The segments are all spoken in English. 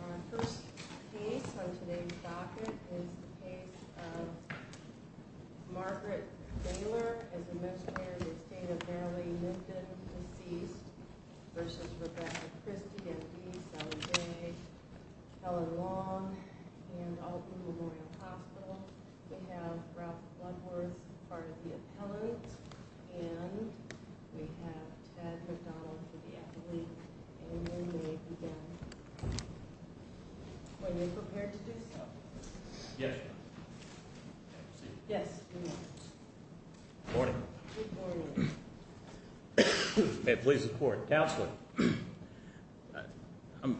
Our first case on today's docket is the case of Margaret Doehler as a menstruator in the state of Maryland, who has been deceased, versus Rebecca Christie, M.D., Southern Bay, Helen Long, and Alton Memorial Hospital. We have Ralph Bloodworth as part of the appellant. And we have Ted McDonald for the appellate. And you may begin when you're prepared to do so. Yes, ma'am. Yes, you may. Good morning. Good morning. May it please the Court. Counselor.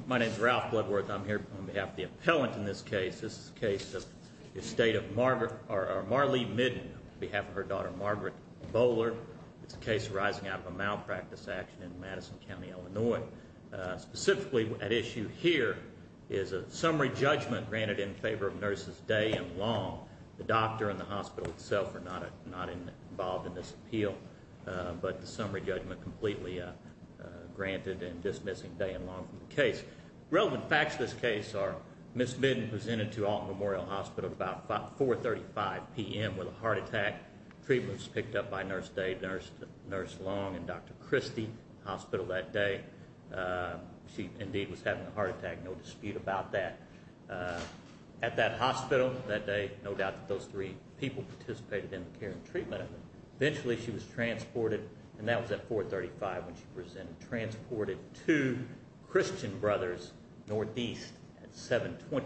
My name's Ralph Bloodworth. I'm here on behalf of the appellant in this case. This is the case of Marlee Midden on behalf of her daughter, Margaret Doehler. It's a case arising out of a malpractice action in Madison County, Illinois. Specifically at issue here is a summary judgment granted in favor of nurses Day and Long. The doctor and the hospital itself are not involved in this appeal. But the summary judgment completely granted in dismissing Day and Long from the case. Relevant facts of this case are Ms. Midden presented to Alton Memorial Hospital at about 4.35 p.m. with a heart attack. Treatment was picked up by Nurse Day, Nurse Long, and Dr. Christie at the hospital that day. She, indeed, was having a heart attack. No dispute about that. At that hospital that day, no doubt that those three people participated in the care and treatment of her. Eventually she was transported, and that was at 4.35 when she presented, transported two Christian brothers northeast at 7.25,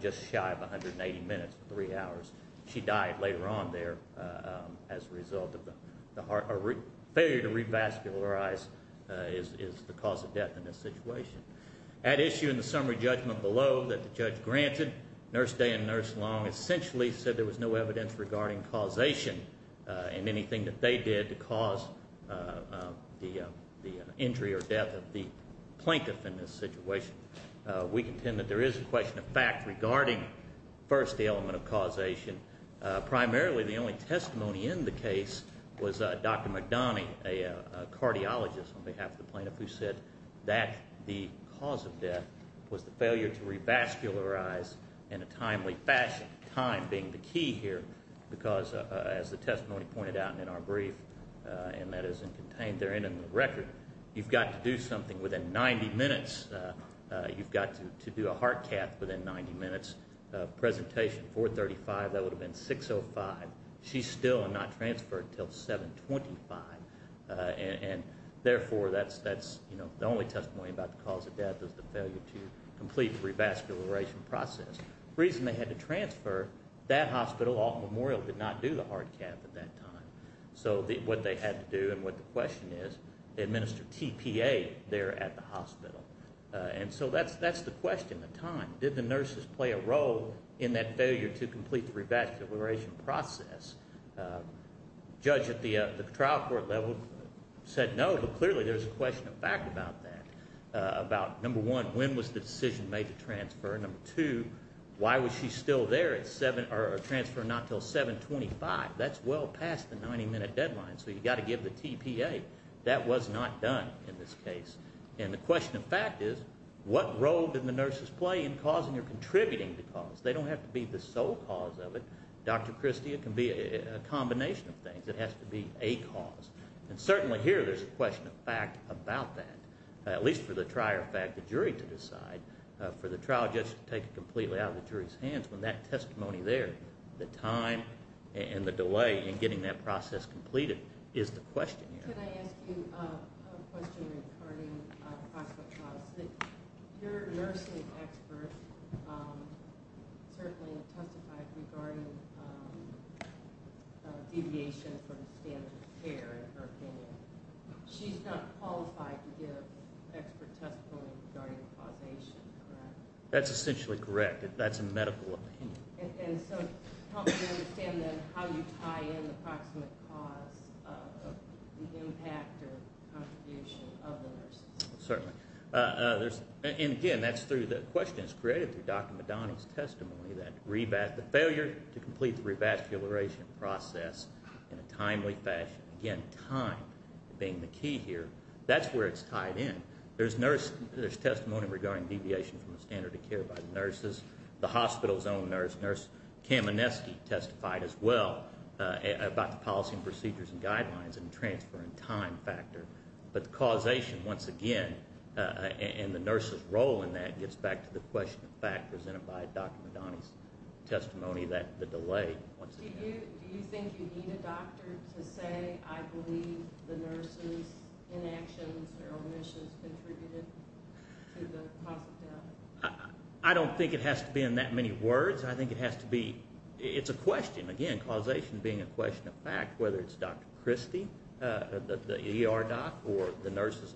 just shy of 180 minutes, three hours. She died later on there as a result of the heart. A failure to revascularize is the cause of death in this situation. At issue in the summary judgment below that the judge granted, Nurse Day and Nurse Long essentially said there was no evidence regarding causation and anything that they did to cause the injury or death of the plaintiff in this situation. We contend that there is a question of fact regarding, first, the element of causation. Primarily the only testimony in the case was Dr. McDonough, a cardiologist, on behalf of the plaintiff, who said that the cause of death was the failure to revascularize in a timely fashion, time being the key here, because as the testimony pointed out in our brief, and that is contained therein in the record, you've got to do something within 90 minutes. You've got to do a heart cath within 90 minutes. Presentation, 4.35, that would have been 6.05. She's still not transferred until 7.25. And therefore that's the only testimony about the cause of death is the failure to complete revascularization process. The reason they had to transfer, that hospital, Alton Memorial, did not do the heart cath at that time. So what they had to do and what the question is, they administered TPA there at the hospital. And so that's the question at the time. Did the nurses play a role in that failure to complete revascularization process? The judge at the trial court level said no, but clearly there's a question of fact about that, about, number one, when was the decision made to transfer? Number two, why was she still there at 7 or transferred not until 7.25? That's well past the 90-minute deadline, so you've got to give the TPA. That was not done in this case. And the question of fact is, what role did the nurses play in causing or contributing to cause? They don't have to be the sole cause of it. Dr. Christie, it can be a combination of things. It has to be a cause. And certainly here there's a question of fact about that, at least for the trier of fact, the jury to decide. For the trial judge to take it completely out of the jury's hands, when that testimony there, the time and the delay in getting that process completed is the question here. Can I ask you a question regarding prospect cause? Your nursing expert certainly testified regarding deviation from standard of care, in her opinion. She's not qualified to give expert testimony regarding causation, correct? That's essentially correct. That's a medical opinion. And so help me understand then how you tie in the proximate cause of the impact or contribution of the nurses. Certainly. And again, that's through the questions created through Dr. Madani's testimony, the failure to complete the revascularization process in a timely fashion. Again, time being the key here. That's where it's tied in. There's testimony regarding deviation from the standard of care by the nurses, the hospital's own nurse. Nurse Kamenetsky testified as well about the policy and procedures and guidelines and transferring time factor. But causation, once again, and the nurses' role in that gets back to the question of fact presented by Dr. Madani's testimony, the delay, once again. Do you think you need a doctor to say, I believe the nurses' inactions or omissions contributed to the cause of death? I don't think it has to be in that many words. I think it has to be – it's a question. Again, causation being a question of fact, whether it's Dr. Christie, the ER doc, or the nurses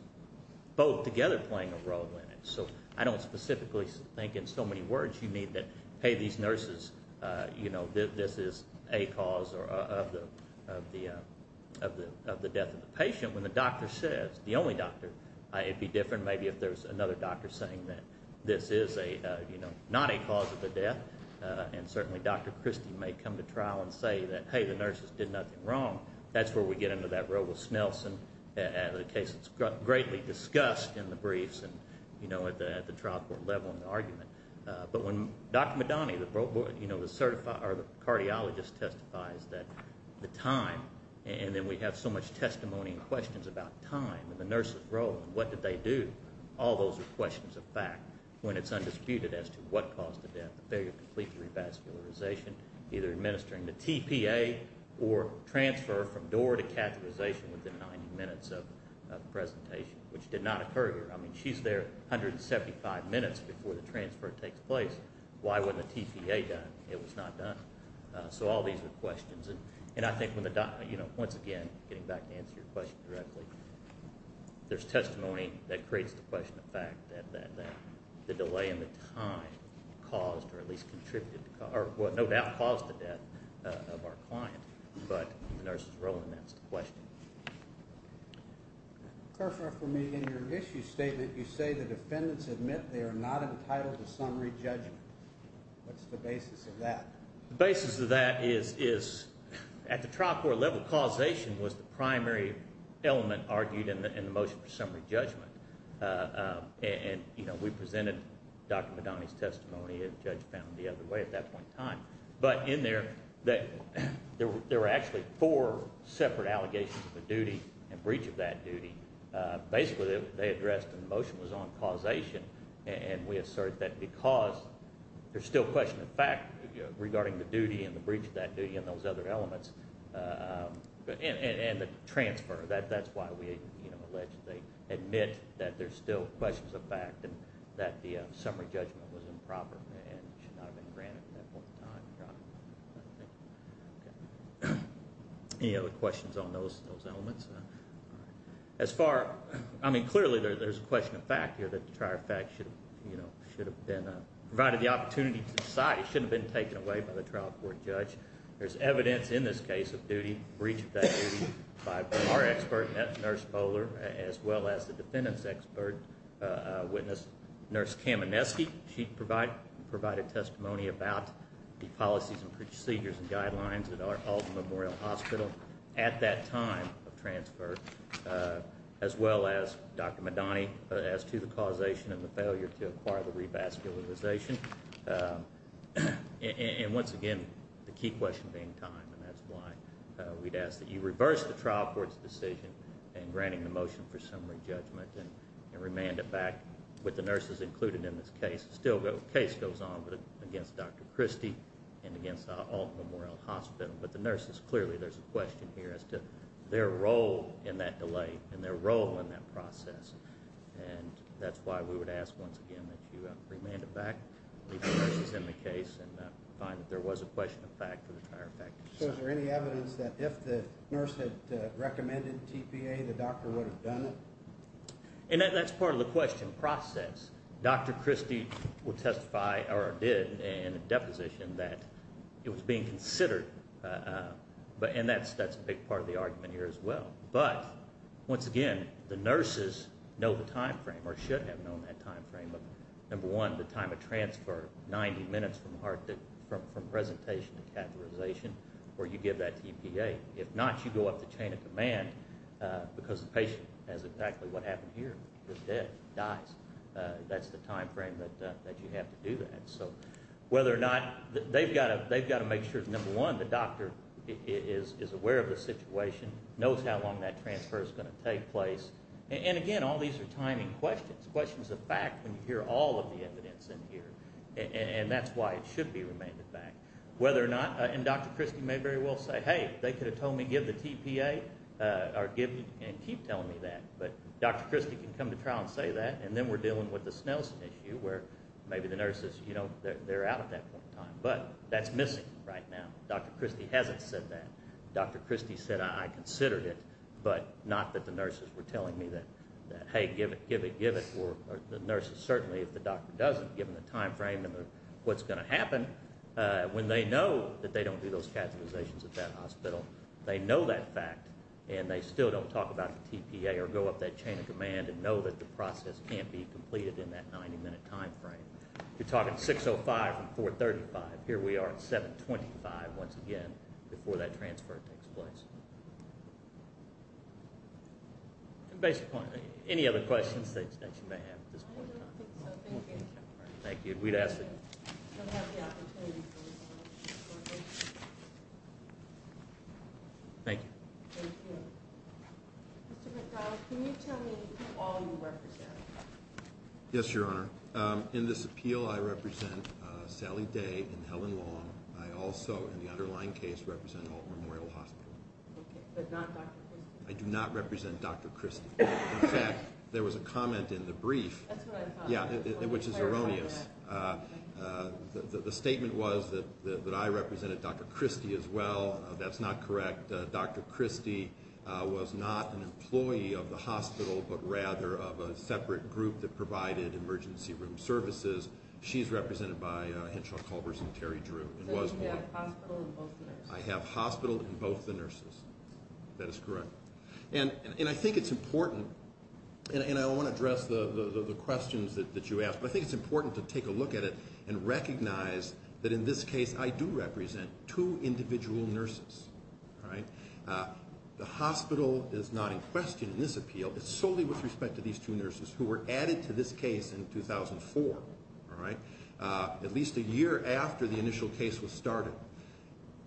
both together playing a role in it. So I don't specifically think in so many words you need that, hey, these nurses, this is a cause of the death of the patient. When the doctor says, the only doctor, it'd be different maybe if there's another doctor saying that this is not a cause of the death. And certainly Dr. Christie may come to trial and say that, hey, the nurses did nothing wrong. That's where we get into that role with Snelson, a case that's greatly discussed in the briefs and at the trial court level in the argument. But when Dr. Madani, the cardiologist testifies that the time, and then we have so much testimony and questions about time and the nurses' role and what did they do, all those are questions of fact when it's undisputed as to what caused the death, the failure of complete revascularization, either administering the TPA or transfer from door to catheterization within 90 minutes of the presentation, which did not occur to her. I mean, she's there 175 minutes before the transfer takes place. Why wasn't the TPA done? It was not done. So all these are questions. And I think when the doctor, you know, once again, getting back to answer your question directly, there's testimony that creates the question of fact that the delay in the time caused or at least contributed, or no doubt caused the death of our client. But the nurses' role in that is the question. For me, in your issue statement, you say the defendants admit they are not entitled to summary judgment. What's the basis of that? The basis of that is at the trial court level causation was the primary element argued in the motion for summary judgment. And, you know, we presented Dr. Madani's testimony, and the judge found it the other way at that point in time. But in there, there were actually four separate allegations of a duty and breach of that duty. Basically, they addressed the motion was on causation, and we assert that because there's still question of fact regarding the duty and the breach of that duty and those other elements and the transfer. That's why we, you know, alleged they admit that there's still questions of fact and that the summary judgment was improper and should not have been granted at that point in time. Any other questions on those elements? As far, I mean, clearly there's a question of fact here that the trial fact should have been provided the opportunity to decide. It shouldn't have been taken away by the trial court judge. There's evidence in this case of duty, breach of that duty, by our expert, Nurse Bowler, as well as the defendants' expert witness, Nurse Kamineski. She provided testimony about the policies and procedures and guidelines at Alton Memorial Hospital at that time of transfer, as well as Dr. Madani, as to the causation of the failure to acquire the revascularization. And once again, the key question being time, and that's why we'd ask that you reverse the trial court's decision in granting the motion for summary judgment and remand it back with the nurses included in this case. Still the case goes on against Dr. Christie and against the Alton Memorial Hospital, but the nurses, clearly there's a question here as to their role in that delay and their role in that process. And that's why we would ask once again that you remand it back with the nurses in the case and find that there was a question of fact for the trial fact. So is there any evidence that if the nurse had recommended TPA, the doctor would have done it? And that's part of the question process. Dr. Christie will testify or did in a deposition that it was being considered, and that's a big part of the argument here as well. But once again, the nurses know the time frame or should have known that time frame of, number one, the time of transfer, 90 minutes from presentation to catheterization where you give that TPA. If not, you go up the chain of command because the patient has exactly what happened here, is dead, dies. That's the time frame that you have to do that. So whether or not they've got to make sure, number one, the doctor is aware of the situation, knows how long that transfer is going to take place. And again, all these are timing questions, questions of fact, when you hear all of the evidence in here, and that's why it should be remanded back. Whether or not, and Dr. Christie may very well say, hey, they could have told me give the TPA and keep telling me that, but Dr. Christie can come to trial and say that, and then we're dealing with the Snell's tissue where maybe the nurses, you know, they're out at that point in time. But that's missing right now. Dr. Christie hasn't said that. Dr. Christie said, I considered it, but not that the nurses were telling me that, hey, give it, give it, give it. Or the nurses certainly, if the doctor doesn't, given the time frame and what's going to happen, when they know that they don't do those catheterizations at that hospital, they know that fact and they still don't talk about the TPA or go up that chain of command and know that the process can't be completed in that 90-minute time frame. You're talking 6.05 from 4.35. Here we are at 7.25, once again, before that transfer takes place. Any other questions that you may have at this point in time? I don't think so. Thank you. Thank you. We'd ask that you would have the opportunity to respond shortly. Thank you. Thank you. Mr. McDowell, can you tell me who all you represent? Yes, Your Honor. In this appeal, I represent Sally Day and Helen Long. I also, in the underlying case, represent Holt Memorial Hospital. Okay, but not Dr. Christie. I do not represent Dr. Christie. In fact, there was a comment in the brief, which is erroneous. The statement was that I represented Dr. Christie as well. That's not correct. Dr. Christie was not an employee of the hospital, but rather of a separate group that provided emergency room services. She is represented by Henshaw Culbers and Terry Drew. So you have hospital and both the nurses? I have hospital and both the nurses. That is correct. And I think it's important, and I want to address the questions that you asked, but I think it's important to take a look at it and recognize that in this case I do represent two individual nurses. The hospital is not in question in this appeal. It's solely with respect to these two nurses who were added to this case in 2004, at least a year after the initial case was started.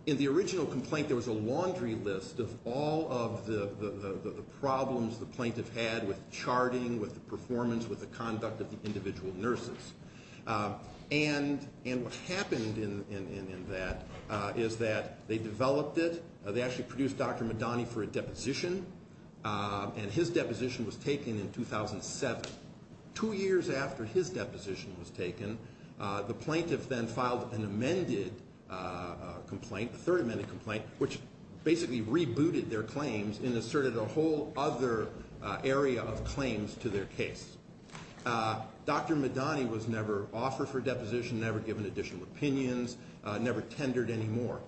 In the original complaint, there was a laundry list of all of the problems the plaintiff had with charting, with the performance, with the conduct of the individual nurses. And what happened in that is that they developed it. They actually produced Dr. Madani for a deposition, and his deposition was taken in 2007, two years after his deposition was taken. The plaintiff then filed an amended complaint, a third amended complaint, which basically rebooted their claims and asserted a whole other area of claims to their case. Dr. Madani was never offered for deposition, never given additional opinions, never tendered anymore.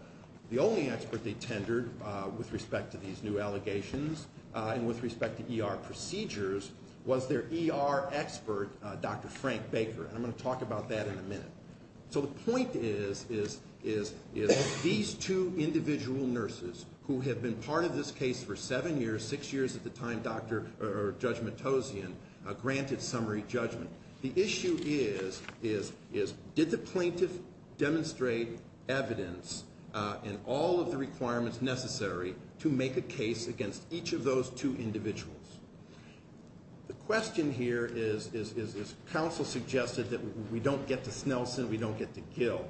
The only expert they tendered with respect to these new allegations and with respect to ER procedures was their ER expert, Dr. Frank Baker. I'm going to talk about that in a minute. So the point is these two individual nurses, who had been part of this case for seven years, six years at the time, Dr. Judgmentosian, granted summary judgment. The issue is did the plaintiff demonstrate evidence in all of the requirements necessary to make a case against each of those two individuals? The question here is, is counsel suggested that we don't get to Snelson, we don't get to Gill.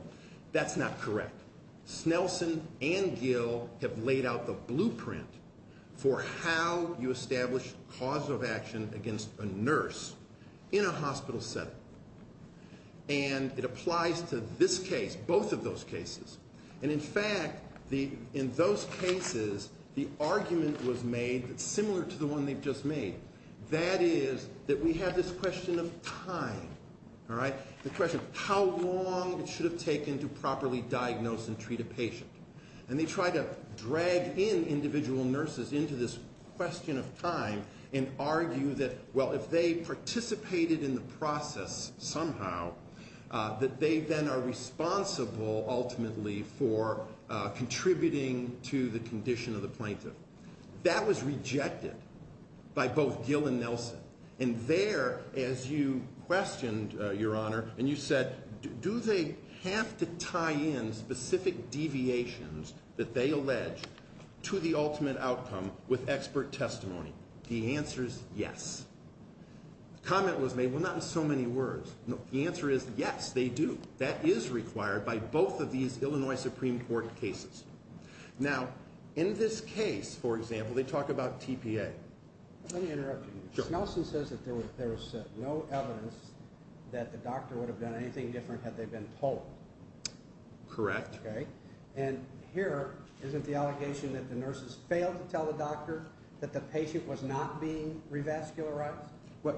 That's not correct. Snelson and Gill have laid out the blueprint for how you establish cause of action against a nurse in a hospital setting. And it applies to this case, both of those cases. And in fact, in those cases, the argument was made that's similar to the one they've just made. That is that we have this question of time. The question of how long it should have taken to properly diagnose and treat a patient. And they try to drag in individual nurses into this question of time and argue that, well, if they participated in the process somehow, that they then are responsible ultimately for contributing to the condition of the plaintiff. That was rejected by both Gill and Nelson. And there, as you questioned, Your Honor, and you said, do they have to tie in specific deviations that they allege to the ultimate outcome with expert testimony? The answer is yes. Comment was made, well, not in so many words. The answer is yes, they do. That is required by both of these Illinois Supreme Court cases. Now, in this case, for example, they talk about TPA. Let me interrupt you. Sure. Snelson says that there was no evidence that the doctor would have done anything different had they been told. Correct. Okay. And here, isn't the allegation that the nurses failed to tell the doctor that the patient was not being revascularized? Well,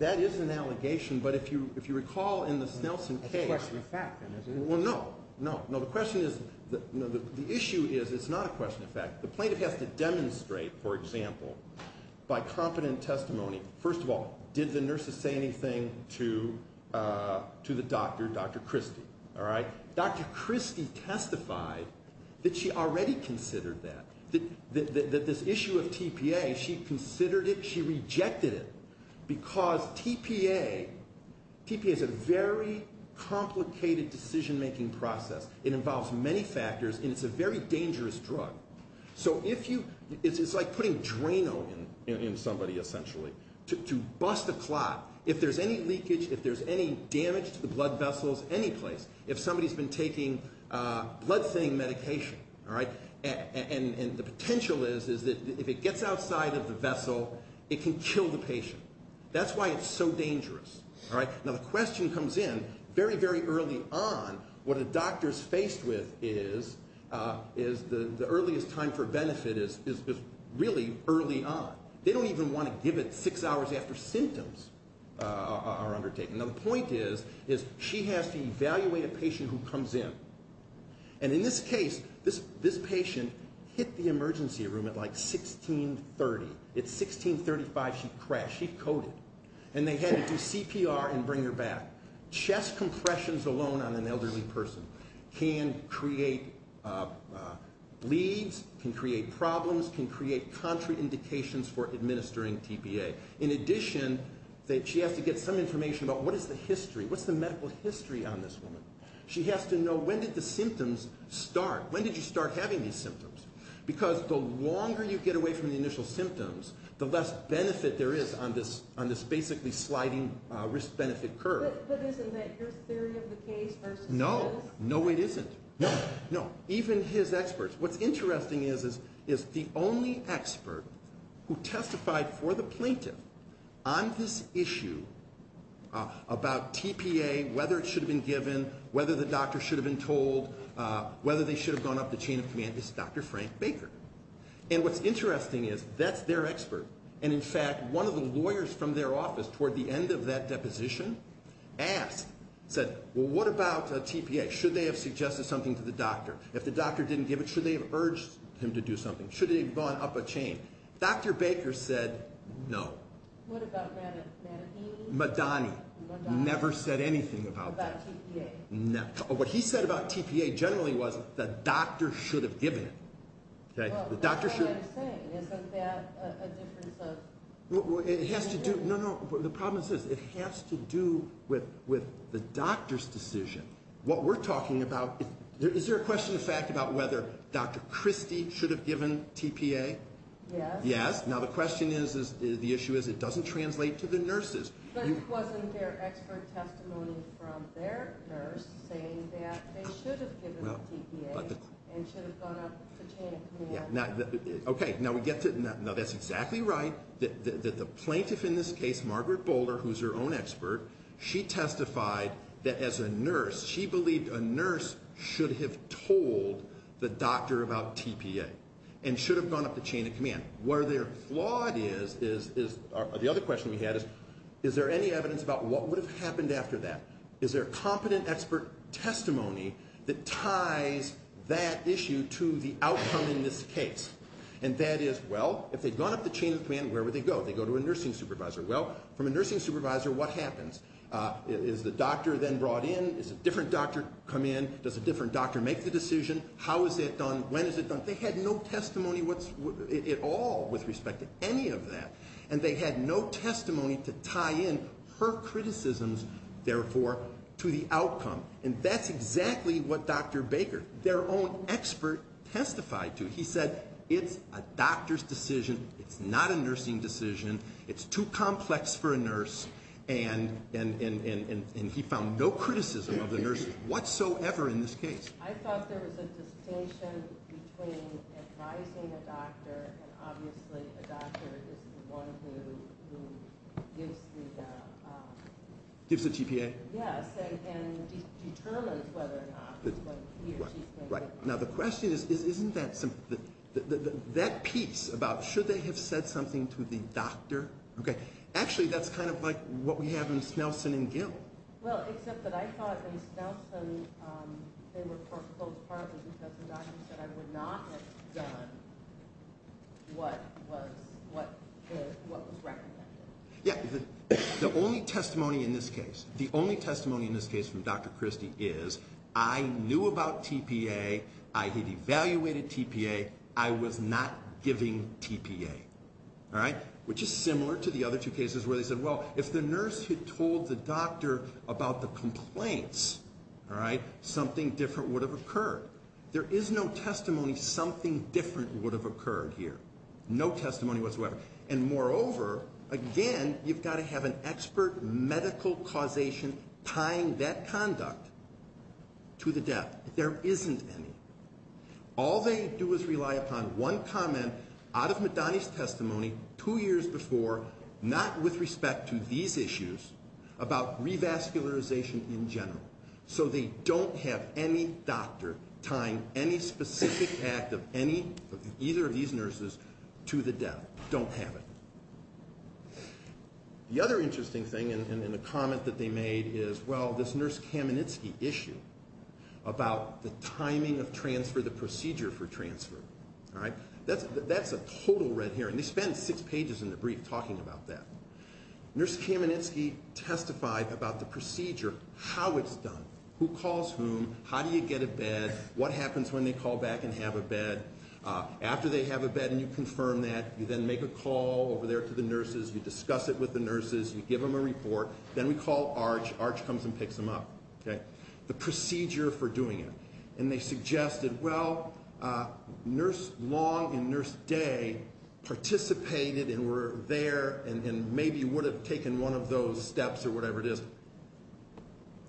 that is an allegation, but if you recall in the Snelson case. It's a question of fact, then, isn't it? Well, no, no. No, the question is the issue is it's not a question of fact. The plaintiff has to demonstrate, for example, by competent testimony. First of all, did the nurses say anything to the doctor, Dr. Christie, all right? Dr. Christie testified that she already considered that, that this issue of TPA, she considered it. She rejected it because TPA, TPA is a very complicated decision-making process. It involves many factors, and it's a very dangerous drug. So if you, it's like putting Drano in somebody, essentially, to bust a clot. If there's any leakage, if there's any damage to the blood vessels, any place, if somebody's been taking blood-thinning medication, all right? And the potential is that if it gets outside of the vessel, it can kill the patient. That's why it's so dangerous, all right? Now, the question comes in very, very early on. What a doctor's faced with is the earliest time for benefit is really early on. They don't even want to give it six hours after symptoms are undertaken. Now, the point is she has to evaluate a patient who comes in. And in this case, this patient hit the emergency room at like 1630. At 1635, she crashed. She coded. And they had to do CPR and bring her back. Chest compressions alone on an elderly person can create bleeds, can create problems, can create contrary indications for administering TPA. In addition, she has to get some information about what is the history, what's the medical history on this woman. She has to know when did the symptoms start. When did you start having these symptoms? Because the longer you get away from the initial symptoms, the less benefit there is on this basically sliding risk-benefit curve. But isn't that your theory of the case versus his? No. No, it isn't. No. No. Even his experts. What's interesting is the only expert who testified for the plaintiff on this issue about TPA, whether it should have been given, whether the doctor should have been told, whether they should have gone up the chain of command, is Dr. Frank Baker. And what's interesting is that's their expert. And, in fact, one of the lawyers from their office toward the end of that deposition asked, said, well, what about TPA? Should they have suggested something to the doctor? If the doctor didn't give it, should they have urged him to do something? Should they have gone up a chain? Dr. Baker said no. What about Madani? Madani. Madani. Never said anything about that. About TPA. What he said about TPA generally was the doctor should have given it. Well, that's what I'm saying. Isn't that a difference of opinion? No, no. The problem is this. It has to do with the doctor's decision. What we're talking about, is there a question of fact about whether Dr. Christie should have given TPA? Yes. Yes. Now, the question is, the issue is it doesn't translate to the nurses. But it wasn't their expert testimony from their nurse saying that they should have given the TPA and should have gone up the chain of command. Okay. Now, that's exactly right. The plaintiff in this case, Margaret Boulder, who's her own expert, she testified that as a nurse, she believed a nurse should have told the doctor about TPA. And should have gone up the chain of command. Where they're flawed is, the other question we had is, is there any evidence about what would have happened after that? Is there competent expert testimony that ties that issue to the outcome in this case? And that is, well, if they'd gone up the chain of command, where would they go? They'd go to a nursing supervisor. Well, from a nursing supervisor, what happens? Is the doctor then brought in? Is a different doctor come in? Does a different doctor make the decision? How is it done? When is it done? They had no testimony at all with respect to any of that. And they had no testimony to tie in her criticisms, therefore, to the outcome. And that's exactly what Dr. Baker, their own expert, testified to. He said, it's a doctor's decision. It's not a nursing decision. It's too complex for a nurse. And he found no criticism of the nurses whatsoever in this case. I thought there was a distinction between advising a doctor, and obviously, a doctor is the one who gives the- Gives the TPA? Right. Now, the question is, isn't that piece about, should they have said something to the doctor? Actually, that's kind of like what we have in Snelson and Gill. Well, except that I thought in Snelson, they were foreclosed partly because the doctor said, I would not have done what was recommended. Yeah. The only testimony in this case, the only testimony in this case from Dr. Christie is, I knew about TPA. I had evaluated TPA. I was not giving TPA. All right? Which is similar to the other two cases where they said, well, if the nurse had told the doctor about the complaints, all right, something different would have occurred. There is no testimony something different would have occurred here. No testimony whatsoever. And moreover, again, you've got to have an expert medical causation tying that conduct to the death. There isn't any. All they do is rely upon one comment out of Madani's testimony two years before, not with respect to these issues, about revascularization in general. So they don't have any doctor tying any specific act of any of either of these nurses to the death. Don't have it. The other interesting thing in the comment that they made is, well, this Nurse Kamenitsky issue about the timing of transfer, the procedure for transfer. All right? That's a total red herring. They spent six pages in the brief talking about that. Nurse Kamenitsky testified about the procedure, how it's done, who calls whom, how do you get a bed, what happens when they call back and have a bed. After they have a bed and you confirm that, you then make a call over there to the nurses. You discuss it with the nurses. You give them a report. Then we call ARCH. ARCH comes and picks them up. The procedure for doing it. And they suggested, well, Nurse Long and Nurse Day participated and were there and maybe would have taken one of those steps or whatever it is.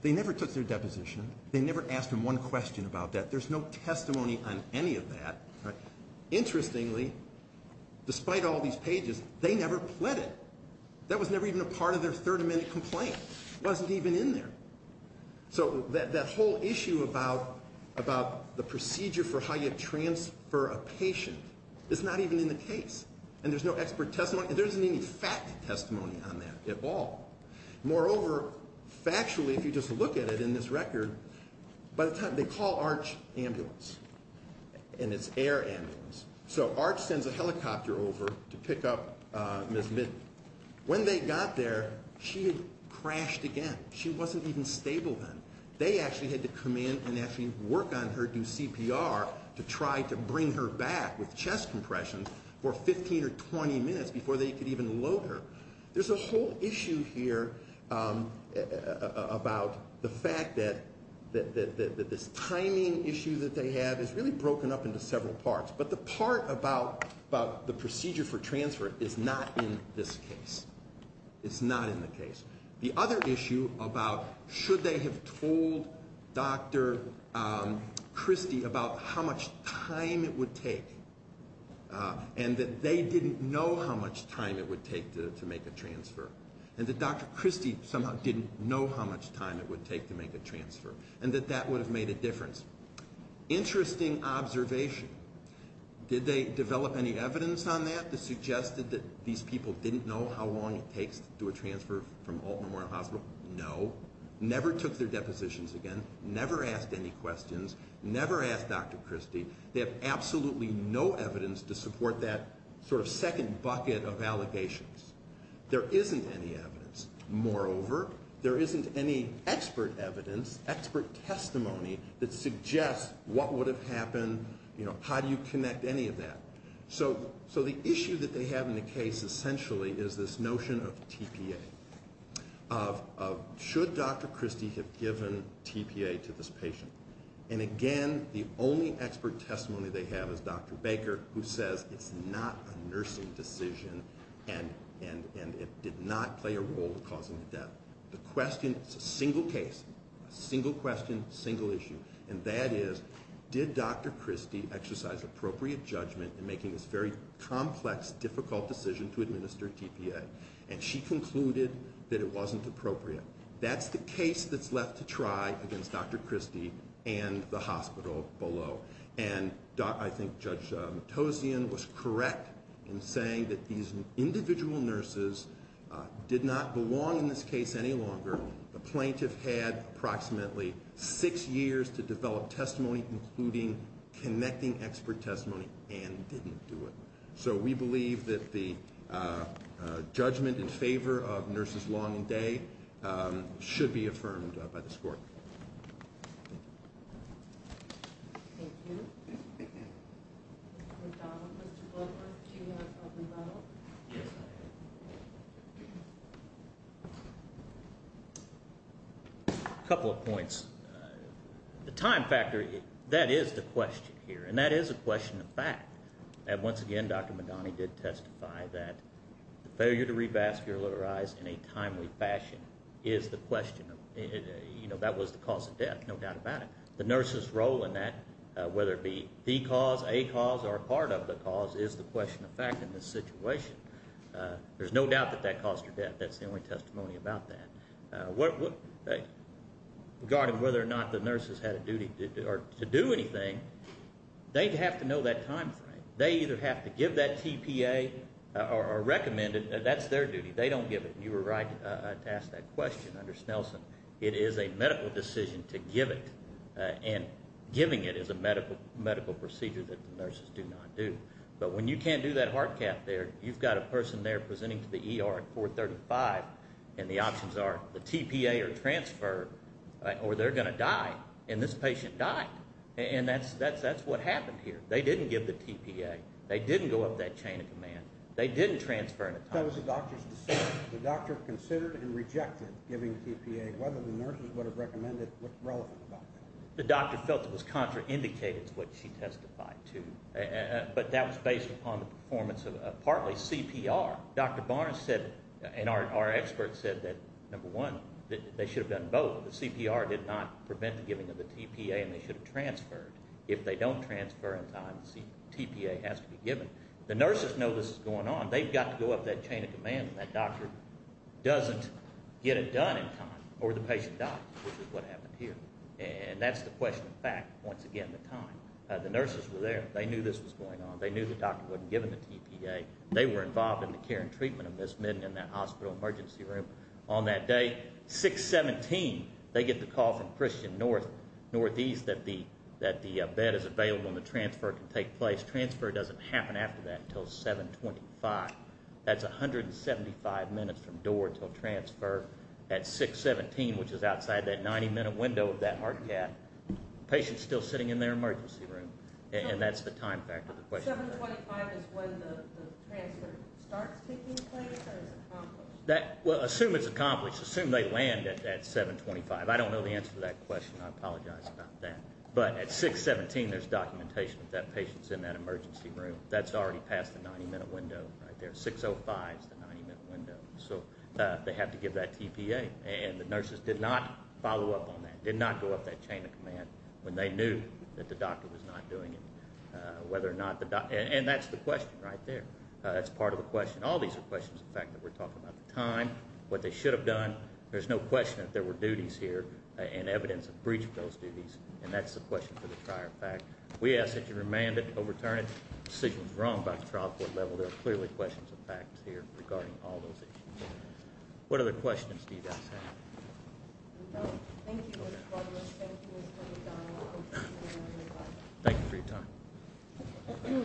They never took their deposition. They never asked them one question about that. There's no testimony on any of that. Interestingly, despite all these pages, they never pled it. That was never even a part of their 30-minute complaint. It wasn't even in there. So that whole issue about the procedure for how you transfer a patient is not even in the case. And there's no expert testimony. There isn't any fact testimony on that at all. Moreover, factually, if you just look at it in this record, by the time they call ARCH ambulance, and it's air ambulance, so ARCH sends a helicopter over to pick up Ms. Mitten. When they got there, she had crashed again. She wasn't even stable then. They actually had to come in and actually work on her, do CPR, to try to bring her back with chest compression for 15 or 20 minutes before they could even load her. There's a whole issue here about the fact that this timing issue that they have is really broken up into several parts. But the part about the procedure for transfer is not in this case. It's not in the case. The other issue about should they have told Dr. Christie about how much time it would take and that they didn't know how much time it would take to make a transfer and that Dr. Christie somehow didn't know how much time it would take to make a transfer and that that would have made a difference. Interesting observation. Did they develop any evidence on that that suggested that these people didn't know how long it takes to do a transfer from Alton Memorial Hospital? No. Never took their depositions again. Never asked any questions. Never asked Dr. Christie. They have absolutely no evidence to support that sort of second bucket of allegations. There isn't any evidence. Moreover, there isn't any expert evidence, expert testimony that suggests what would have happened, how do you connect any of that. So the issue that they have in the case essentially is this notion of TPA, of should Dr. Christie have given TPA to this patient. And again, the only expert testimony they have is Dr. Baker, who says it's not a nursing decision and it did not play a role in causing the death. The question is a single case, a single question, a single issue, and that is, did Dr. Christie exercise appropriate judgment in making this very complex, difficult decision to administer TPA? And she concluded that it wasn't appropriate. That's the case that's left to try against Dr. Christie and the hospital below. And I think Judge Matossian was correct in saying that these individual nurses did not belong in this case any longer. The plaintiff had approximately six years to develop testimony, including connecting expert testimony, and didn't do it. So we believe that the judgment in favor of nurses Long and Day should be affirmed by this court. Thank you. Thank you. Mr. McDonald, Mr. Goldberg, do you have a comment at all? Yes, I do. A couple of points. The time factor, that is the question here, and that is a question of fact. And once again, Dr. Madani did testify that the failure to revascularize in a timely fashion is the question. You know, that was the cause of death, no doubt about it. The nurse's role in that, whether it be the cause, a cause, or part of the cause is the question of fact in this situation. There's no doubt that that caused her death. That's the only testimony about that. Regarding whether or not the nurses had a duty to do anything, they have to know that time frame. They either have to give that TPA or recommend it. That's their duty. They don't give it. You were right to ask that question under Snelson. It is a medical decision to give it, and giving it is a medical procedure that the nurses do not do. But when you can't do that hard cap there, you've got a person there presenting to the ER at 435, and the options are the TPA or transfer, or they're going to die, and this patient died. And that's what happened here. They didn't give the TPA. They didn't go up that chain of command. They didn't transfer in a timely fashion. That was the doctor's decision. The doctor considered and rejected giving the TPA, whether the nurses would have recommended it. What's relevant about that? The doctor felt it was contraindicated to what she testified to, but that was based upon the performance of partly CPR. Dr. Barnes said, and our expert said that, number one, they should have done both. The CPR did not prevent the giving of the TPA, and they should have transferred. If they don't transfer in time, the TPA has to be given. The nurses know this is going on. They've got to go up that chain of command, and that doctor doesn't get it done in time, or the patient dies, which is what happened here. And that's the question of fact, once again, the time. The nurses were there. They knew this was going on. They knew the doctor wasn't giving the TPA. They were involved in the care and treatment of Ms. Midden in that hospital emergency room on that day. 6-17, they get the call from Christian Northeast that the bed is available and the transfer can take place. Transfer doesn't happen after that until 7-25. That's 175 minutes from door until transfer. At 6-17, which is outside that 90-minute window of that hard cap, the patient's still sitting in their emergency room, and that's the time factor of the question. 7-25 is when the transfer starts taking place or is accomplished? Assume it's accomplished. Assume they land at 7-25. I don't know the answer to that question. I apologize about that. But at 6-17, there's documentation that that patient's in that emergency room. That's already past the 90-minute window right there. 6-05 is the 90-minute window. So they have to give that TPA. And the nurses did not follow up on that, did not go up that chain of command when they knew that the doctor was not doing it. And that's the question right there. That's part of the question. All these are questions of fact that we're talking about the time, what they should have done. There's no question that there were duties here and evidence of breach of those duties, and that's the question for the prior fact. We ask that you remand it, overturn it. Decisions were wrong by the trial court level. There are clearly questions of fact here regarding all those issues. What other questions do you guys have? No. Thank you, Mr. Butler. Thank you for your time. Thank you for your time.